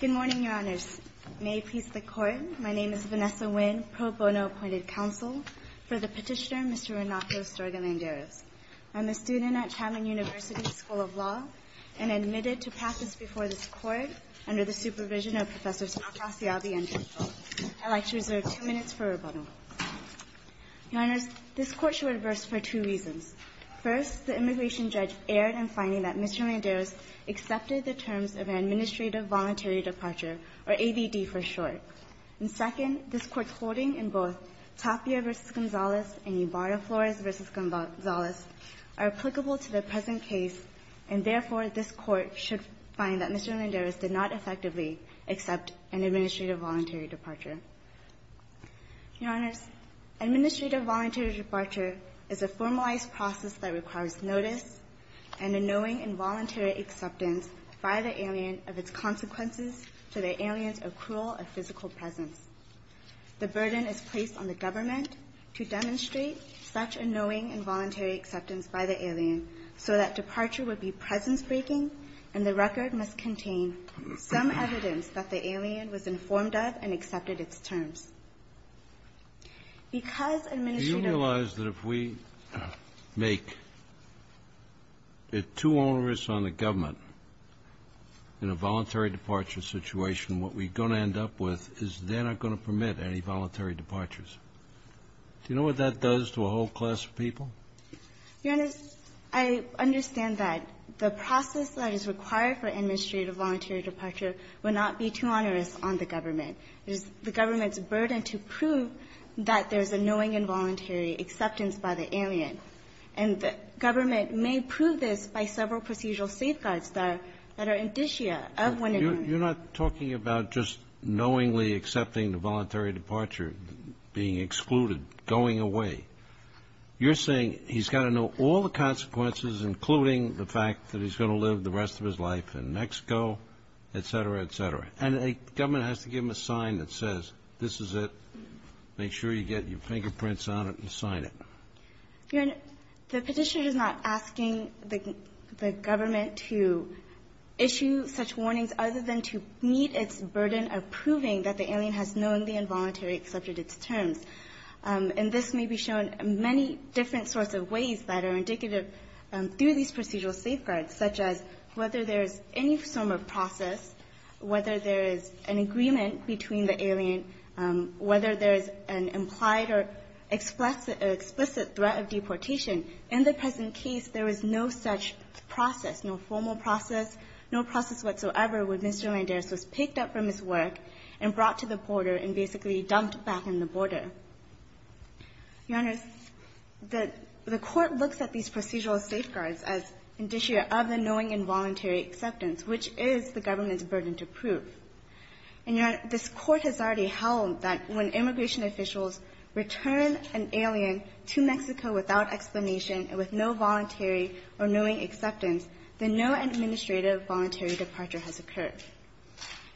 Good morning, Your Honors. May it please the Court, my name is Vanessa Nguyen, pro bono appointed counsel for the petitioner, Mr. Renato Estorga Landeros. I'm a student at Chatham University School of Law and admitted to practice before this court under the supervision of Professors Acasiovi and Tito. I'd like to reserve two minutes for rebuttal. Your Honors, this court should reverse for two reasons. First, the immigration judge erred in finding that Mr. Landeros accepted the terms of an administrative voluntary departure, or ABD for short. And second, this court's holding in both Tapia v. Gonzales and Ybarra Flores v. Gonzales are applicable to the present case. And therefore, this court should find that Mr. Landeros did not effectively accept an administrative voluntary departure. Your Honors, administrative voluntary departure is a formalized process that requires notice and a knowing and voluntary acceptance by the alien of its consequences to the alien's accrual of physical presence. The burden is placed on the government to demonstrate such a knowing and voluntary acceptance by the alien so that departure would be presence-breaking and the record must contain some evidence that the alien was informed of and accepted its terms. Because administrative You realize that if we make it too onerous on the government in a voluntary departure situation, what we're going to end up with is they're not going to permit any voluntary departures. Do you know what that does to a whole class of people? Your Honors, I understand that the process that is required for administrative voluntary departure would not be too onerous on the government. It is the government's burden to prove that there's a knowing and voluntary acceptance by the alien. And the government may prove this by several procedural safeguards that are indicia of when You're not talking about just knowingly accepting the voluntary departure, being excluded, going away. You're saying he's got to know all the consequences, including the fact that he's going to live the rest of his life in Mexico, et cetera, et cetera. And the government has to give him a sign that says, this is it. Make sure you get your fingerprints on it and sign it. Your Honor, the petitioner is not asking the government to issue such warnings other than to meet its burden of proving that the alien has knowingly and voluntarily accepted its terms. And this may be shown in many different sorts of ways that are indicative through these procedural safeguards, such as whether there is any form of process, whether there is an agreement between the alien, whether there is an implied or explicit threat of deportation. In the present case, there is no such process, no formal process, no process whatsoever when Mr. Landaris was picked up from his work and brought to the border and basically dumped back in the border. Your Honor, the court looks at these procedural safeguards as indicia of the knowing and voluntary acceptance, which is the government's burden to prove. And Your Honor, this court has already held that when immigration officials return an alien to Mexico without explanation and with no voluntary or knowing acceptance, then no administrative voluntary departure has occurred.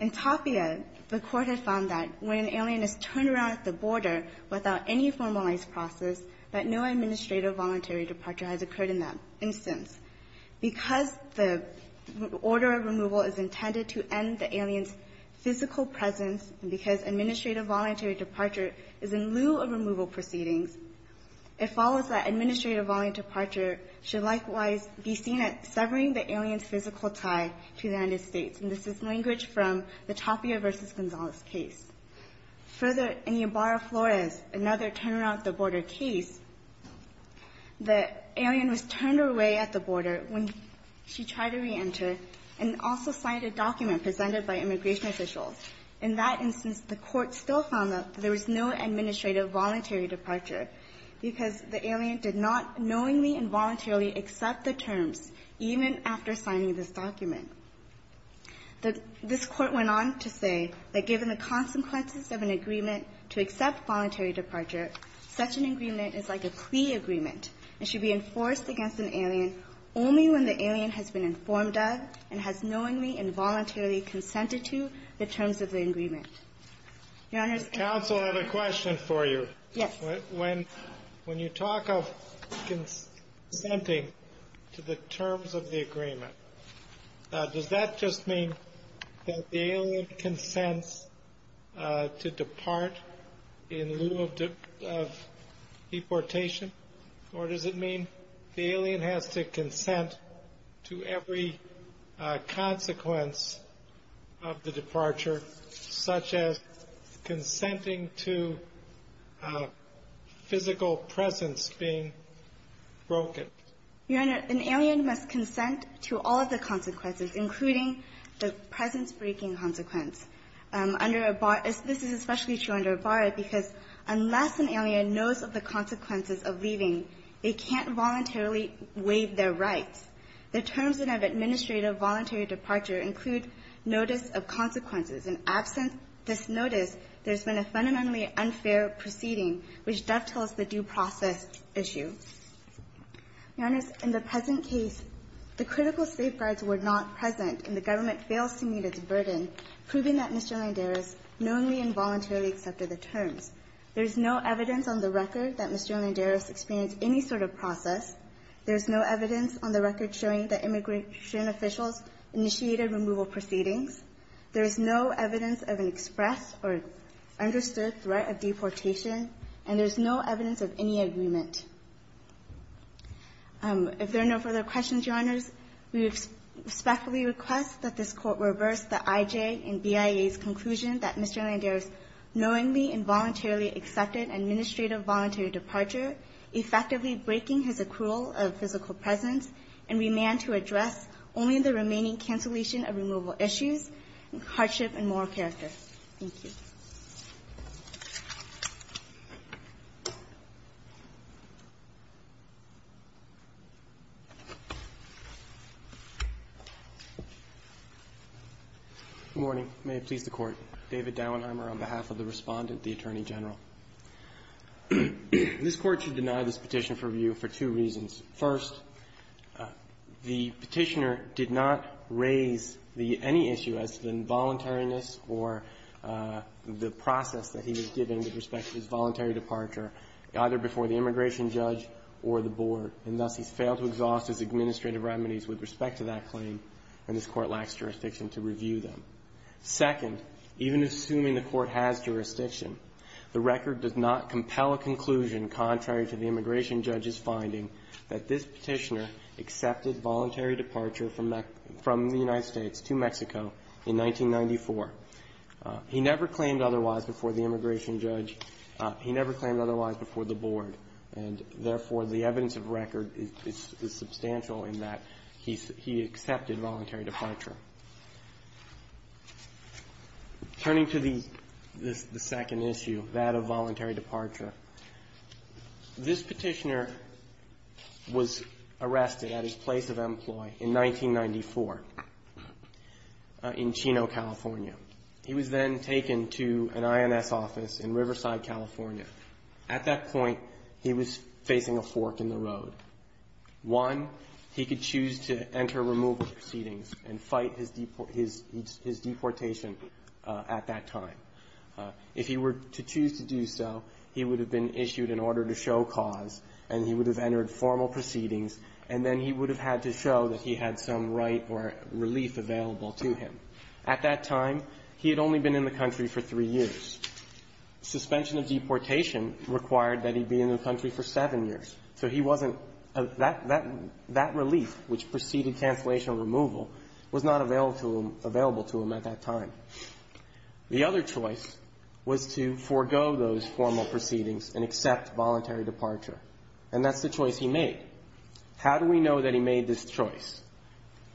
In Tapia, the court had found that when an alien is turned around at the border without any formalized process, that no administrative voluntary departure has occurred in that instance. Because the order of removal is intended to end the alien's physical presence and because administrative voluntary departure is in lieu of removal proceedings, it follows that administrative voluntary departure should likewise be seen as severing the alien's physical tie to the United States. And this is language from the Tapia versus Gonzalez case. Further, in Ybarra-Flores, another turn around at the border case, the alien was turned away at the border when she tried to reenter and also signed a document presented by immigration officials. In that instance, the court still found that there was no administrative voluntary departure because the alien did not knowingly and voluntarily accept the terms, even after signing this document. This court went on to say that given the consequences of an agreement to accept voluntary departure, such an agreement is like a plea agreement and should be enforced against an alien only when the alien has been informed of and has knowingly and voluntarily consented to the terms of the agreement. Your Honor's counsel have a question for you. Yes. When you talk of consenting to the terms of the agreement, does that just mean that the alien consents to depart in lieu of deportation? Or does it mean the alien has to consent to every consequence of the departure, such as consenting to physical presence being broken? Your Honor, an alien must consent to all of the consequences, including the presence-breaking consequence. This is especially true under Ybarra because unless an alien knows of the consequences of leaving, they can't voluntarily waive their rights. The terms of administrative voluntary departure include notice of consequences. And absent this notice, there's been a fundamentally unfair proceeding, which dovetails the due process issue. Your Honor, in the present case, the critical safeguards were not present, and the government fails to meet its burden, proving that Mr. Landera's knowingly and voluntarily accepted the terms. There's no evidence on the record that Mr. Landera experienced any sort of process. There's no evidence on the record showing that immigration officials initiated removal proceedings. There is no evidence of an expressed or understood threat of deportation. And there's no evidence of any agreement. If there are no further questions, Your Honors, we respectfully request that this Court reverse the IJ and BIA's conclusion that Mr. Landera's knowingly and voluntarily accepted administrative voluntary departure, effectively breaking his accrual of physical presence, and remand to address only the remaining cancellation of removal issues, hardship, and moral character. Thank you. Good morning. May it please the Court. David Dauenheimer on behalf of the respondent, the Attorney General. This Court should deny this petition for review for two reasons. First, the petitioner did not raise any issue as to the involuntariness or the process that he was given with respect to his voluntary departure, either before the immigration judge or the board. And thus, he's failed to exhaust his administrative remedies with respect to that claim, and this Court lacks jurisdiction to review them. Second, even assuming the Court has jurisdiction, the record does not compel a conclusion contrary to the immigration judge's finding that this petitioner accepted voluntary departure from the United States to Mexico in 1994. He never claimed otherwise before the immigration judge. He never claimed otherwise before the board, and therefore, the evidence of record is substantial in that he accepted voluntary departure. Turning to the second issue, that of voluntary departure, this petitioner was arrested at his place of employ in 1994 in Chino, California. He was then taken to an INS office in Riverside, California. At that point, he was facing a fork in the road. One, he could choose to enter removal proceedings and fight his deportation at that time. If he were to choose to do so, he would have been issued an order to show cause, and he would have entered formal proceedings, and then he would have had to show that he had some right or relief available to him. At that time, he had only been in the country for three years. Suspension of deportation required that he be in the country for seven years. So he wasn't of that relief, which preceded cancellation of removal, was not available to him at that time. The other choice was to forego those formal proceedings and accept voluntary departure. And that's the choice he made. How do we know that he made this choice?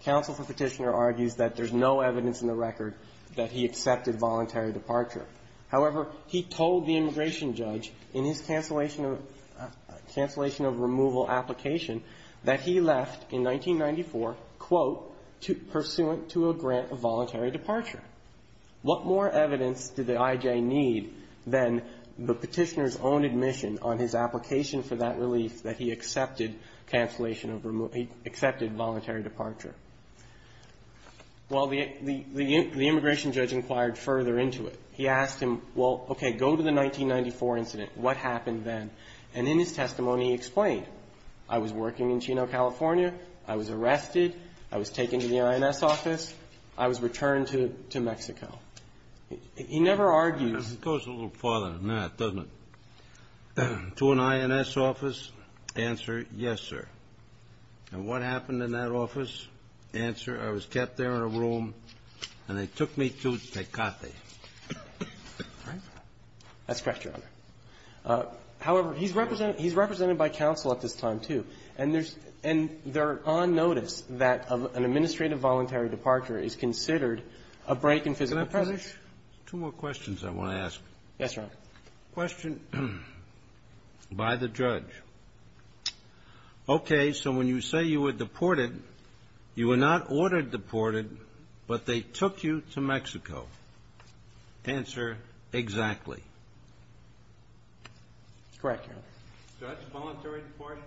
Counsel for petitioner argues that there's no evidence in the record that he accepted voluntary departure. However, he told the immigration judge in his cancellation of removal application that he left in 1994, quote, pursuant to a grant of voluntary departure. What more evidence did the I.J. need than the petitioner's own admission on his application for that relief that he accepted cancellation of removal or he accepted voluntary departure? Well, the immigration judge inquired further into it. He asked him, well, okay, go to the 1994 incident. What happened then? And in his testimony, he explained, I was working in Chino, California. I was arrested. I was taken to the INS office. I was returned to Mexico. He never argues. It goes a little farther than that, doesn't it? To an INS office, answer, yes, sir. And what happened in that office? Answer, I was kept there in a room, and they took me to Tecate. That's correct, Your Honor. However, he's represented by counsel at this time, too. And there's an on notice that an administrative voluntary departure is considered a break in physical presence. Can I finish? There's two more questions I want to ask. Yes, Your Honor. Question by the judge. Okay. So when you say you were deported, you were not ordered deported, but they took you to Mexico. Answer, exactly. That's correct, Your Honor. So that's a voluntary departure?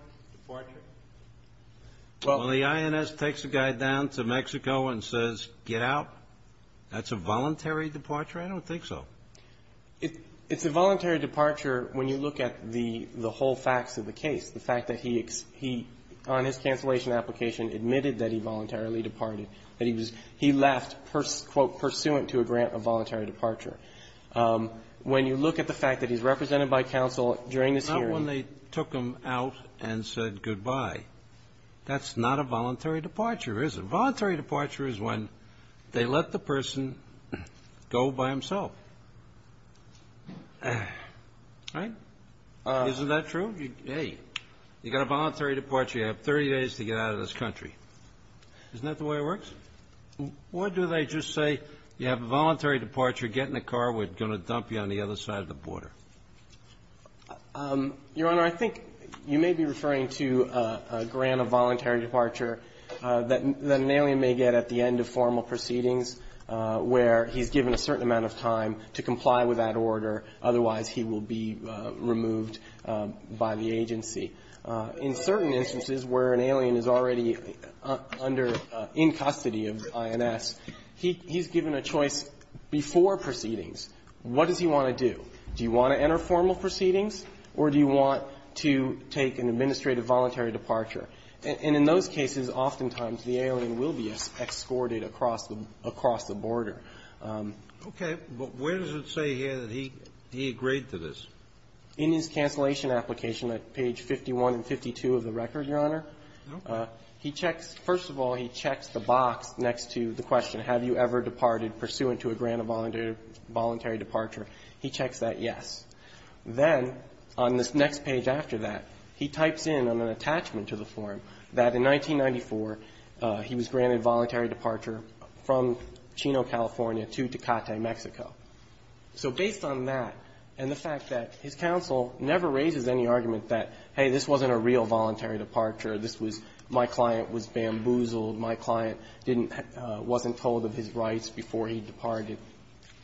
Well, when the INS takes a guy down to Mexico and says, get out, that's a voluntary departure? I don't think so. It's a voluntary departure when you look at the whole facts of the case. The fact that he, on his cancellation application, admitted that he voluntarily departed. That he was, he left, quote, pursuant to a grant of voluntary departure. When you look at the fact that he's represented by counsel during this hearing. Not when they took him out and said goodbye. That's not a voluntary departure, is it? Voluntary departure is when they let the person go by himself. Right? Isn't that true? Hey, you got a voluntary departure, you have 30 days to get out of this country. Isn't that the way it works? Or do they just say, you have a voluntary departure, get in the car, we're going to dump you on the other side of the border? Your Honor, I think you may be referring to a grant of voluntary departure that an alien may get at the end of formal proceedings where he's given a certain amount of time to comply with that order, otherwise he will be removed by the agency. In certain instances where an alien is already under, in custody of INS, he's given a choice before proceedings. What does he want to do? Do you want to enter formal proceedings or do you want to take an administrative voluntary departure? And in those cases, oftentimes the alien will be escorted across the border. Okay. But where does it say here that he agreed to this? In his cancellation application at page 51 and 52 of the record, Your Honor, he checks first of all, he checks the box next to the question, have you ever departed pursuant to a grant of voluntary departure? He checks that yes. Then on this next page after that, he types in on an attachment to the form that in 1994, he was granted voluntary departure from Chino, California to Tecate, Mexico. So based on that and the fact that his counsel never raises any argument that, hey, this wasn't a real voluntary departure, this was my client was bamboozled, my client didn't wasn't told of his rights before he departed.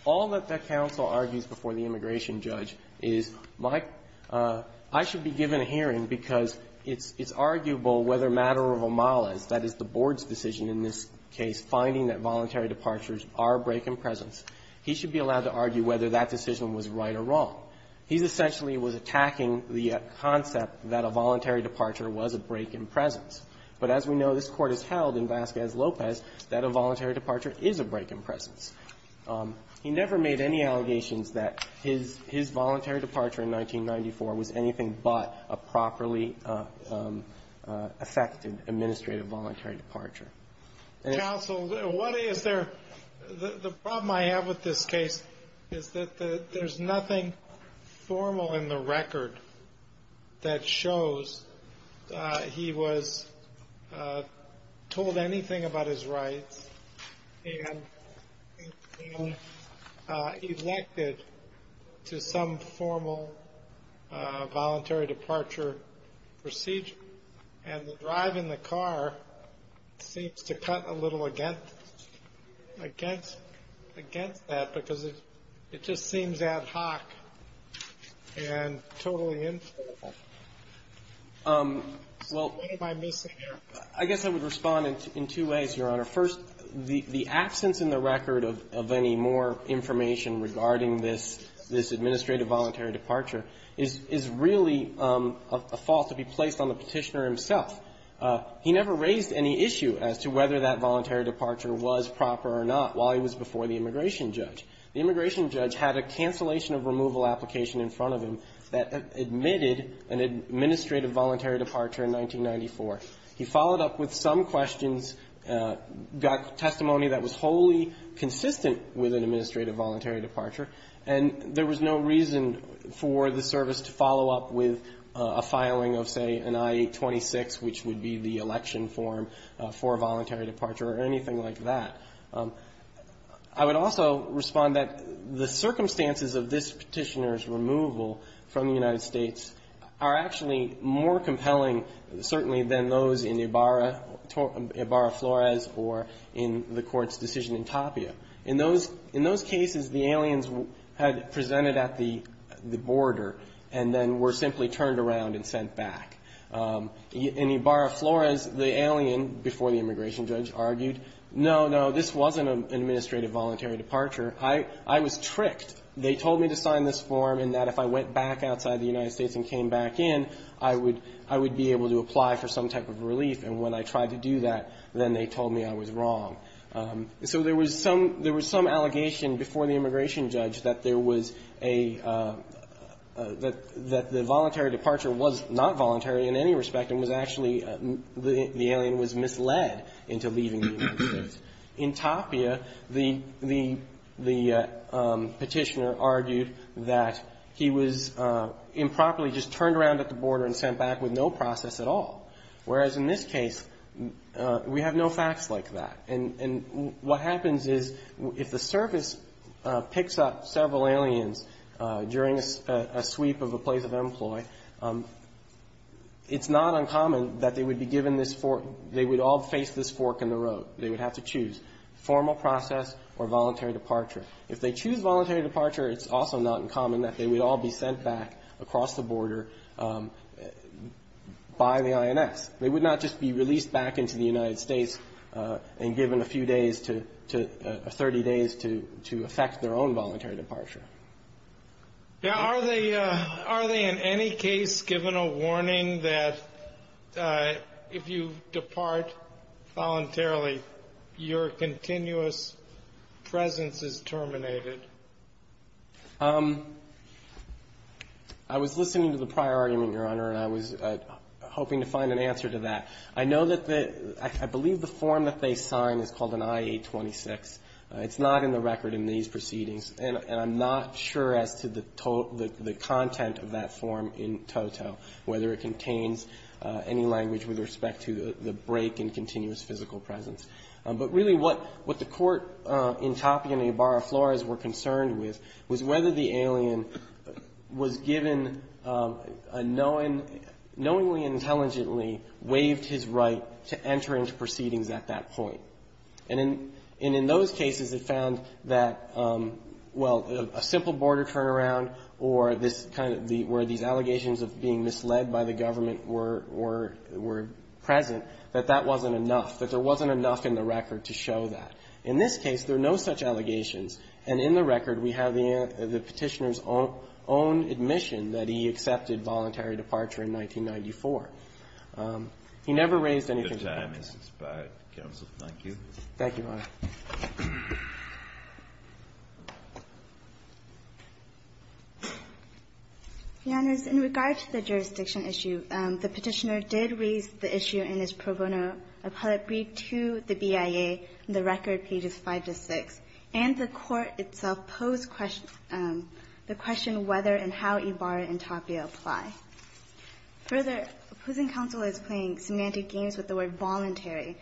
All that the counsel argues before the immigration judge is my – I should be given a hearing because it's arguable whether matter of omalas, that is the board's decision in this case, finding that voluntary departures are break in presence. He should be allowed to argue whether that decision was right or wrong. He essentially was attacking the concept that a voluntary departure was a break in presence. But as we know, this Court has held in Vasquez-Lopez that a voluntary departure is a break in presence. He never made any allegations that his voluntary departure in 1994 was anything but a properly affected administrative voluntary departure. Counsel, what is there – the problem I have with this case is that there's nothing formal in the record that shows he was told anything about his rights and elected to some formal voluntary departure procedure. And the drive in the car seems to cut a little against that because it just seems ad hoc and totally infallible. So what am I missing here? Well, I guess I would respond in two ways, Your Honor. First, the absence in the record of any more information regarding this administrative voluntary departure is really a fault to be placed on the petitioner himself. He never raised any issue as to whether that voluntary departure was proper or not while he was before the immigration judge. The immigration judge had a cancellation of removal application in front of him that admitted an administrative voluntary departure in 1994. He followed up with some questions, got testimony that was wholly consistent with an administrative voluntary departure. And there was no reason for the service to follow up with a filing of, say, an I-26, which would be the election form for a voluntary departure or anything like that. I would also respond that the circumstances of this Petitioner's removal from the United States are actually more compelling, certainly, than those in Ibarra, Ibarra-Flores or in the Court's decision in Tapia. In those cases, the aliens had presented at the border and then were simply turned around and sent back. In Ibarra-Flores, the alien, before the immigration judge, argued, no, no, this wasn't an administrative voluntary departure. I was tricked. They told me to sign this form and that if I went back outside the United States and came back in, I would be able to apply for some type of relief. And when I tried to do that, then they told me I was wrong. So there was some allegation before the immigration judge that there was a – that the voluntary departure was not voluntary in any respect and was actually – the alien was misled into leaving the United States. In Tapia, the Petitioner argued that he was improperly just turned around at the border and sent back with no process at all, whereas in this case, we have no facts like that. And what happens is if the service picks up several aliens during a sweep of a place of employ, it's not uncommon that they would be given this – they would all face this fork in the road. They would have to choose formal process or voluntary departure. If they choose voluntary departure, it's also not uncommon that they would all be sent back across the border by the INS. They would not just be released back into the United States and given a few days to – 30 days to effect their own voluntary departure. Now, are they – are they in any case given a warning that if you depart voluntarily, your continuous presence is terminated? I was listening to the prior argument, Your Honor, and I was hoping to find an answer to that. I know that the – I believe the form that they sign is called an I-826. It's not in the record in these proceedings, and I'm not sure as to the – the content of that form in toto, whether it contains any language with respect to the break in continuous physical presence. But really what – what the Court in Tapia and Ibarra Flores were concerned with was whether the alien was given a knowing – knowingly and intelligently waived his right to enter into proceedings at that point. And in – and in those cases, it found that, well, a simple border turnaround or this kind of the – where these allegations of being misled by the government were – were present, that that wasn't enough, that there wasn't enough in the record to show that. In this case, there are no such allegations. And in the record, we have the Petitioner's own admission that he accepted voluntary departure in 1994. He never raised anything to that effect. The time is expired. Counsel, thank you. Thank you, Your Honor. Your Honors, in regard to the jurisdiction issue, the Petitioner did raise the issue in his pro bono appellate brief to the BIA in the record pages 5 to 6. And the Court itself posed question – the question whether and how Ibarra and Tapia apply. Further, opposing counsel is playing semantic games with the word voluntary.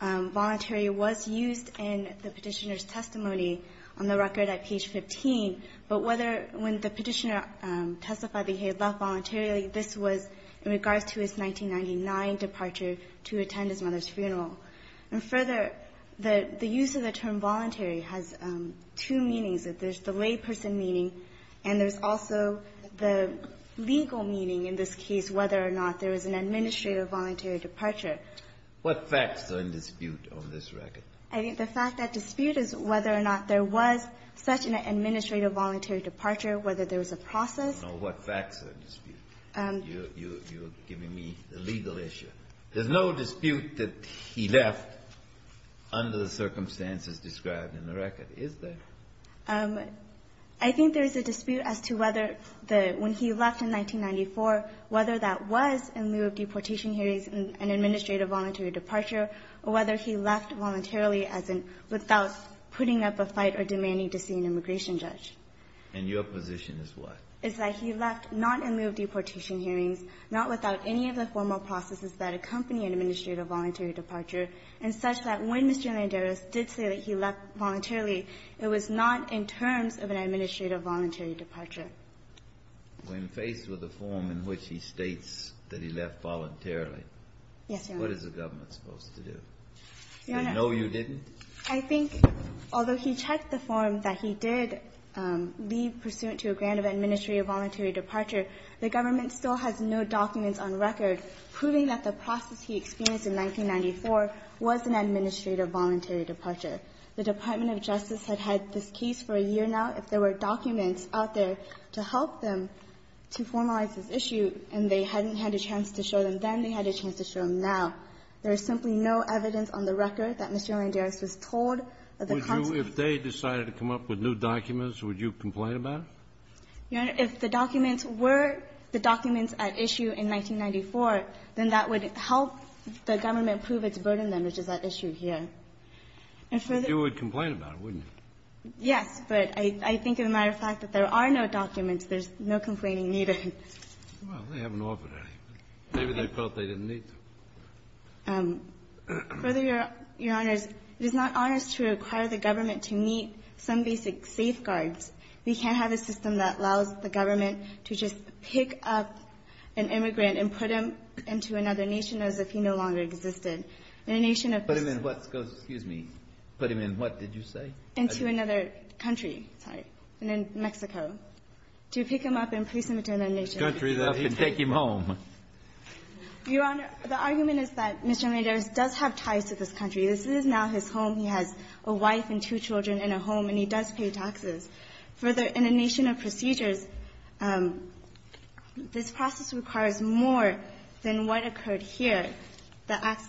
Voluntary was used in the Petitioner's testimony on the record at page 15, but whether when the Petitioner testified that he had left voluntarily, this was in regards to his 1999 departure to attend his mother's funeral. And further, the use of the term voluntary has two meanings. There's the layperson meaning, and there's also the legal meaning in this case, whether or not there was an administrative voluntary departure. What facts are in dispute on this record? I think the fact that dispute is whether or not there was such an administrative voluntary departure, whether there was a process. No, what facts are in dispute? You're giving me the legal issue. There's no dispute that he left under the circumstances described in the record, is there? I think there's a dispute as to whether the – when he left in 1994, whether that was in lieu of deportation hearings and an administrative voluntary departure, or whether he left voluntarily as in without putting up a fight or demanding to see an immigration judge. And your position is what? Is that he left not in lieu of deportation hearings, not without any of the formal processes that accompany an administrative voluntary departure, and such that when Mr. Landeros did say that he left voluntarily, it was not in terms of an administrative voluntary departure. When faced with a form in which he states that he left voluntarily, what is the government supposed to do? They know you didn't? Your Honor, I think although he checked the form that he did leave pursuant to a grant of administrative voluntary departure, the government still has no documents on record proving that the process he experienced in 1994 was an administrative voluntary departure. The Department of Justice had had this case for a year now. If there were documents out there to help them to formalize this issue and they hadn't had a chance to show them then, they had a chance to show them now. There is simply no evidence on the record that Mr. Landeros was told that the constant If they decided to come up with new documents, would you complain about it? Your Honor, if the documents were the documents at issue in 1994, then that would help the government prove its burden then, which is at issue here. And further You would complain about it, wouldn't you? Yes, but I think as a matter of fact that there are no documents. There's no complaining needed. Well, they haven't offered any. Maybe they felt they didn't need them. Further, Your Honor, it is not honest to require the government to meet some basic safeguards. We can't have a system that allows the government to just pick up an immigrant and put him into another nation as if he no longer existed. In a nation of Put him in what? Excuse me. Put him in what did you say? Into another country. Sorry. In Mexico. To pick him up and place him in another nation. To pick him up and take him home. Your Honor, the argument is that Mr. Landeros does have ties to this country. This is now his home. He has a wife and two children and a home, and he does pay taxes. Further, in a nation of procedures, this process requires more than what occurred here. The act's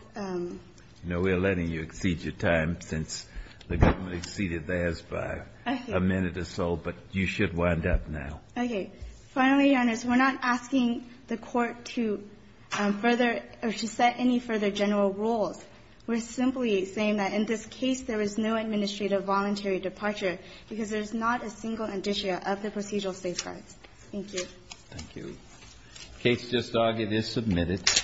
no. We're letting you exceed your time since the government exceeded theirs by a minute or so, but you should wind up now. Okay. Finally, Your Honor, we're not asking the Court to further or to set any further general rules. We're simply saying that in this case there is no administrative voluntary departure because there's not a single indicia of the procedural safeguards. Thank you. Thank you. Case just argued is submitted.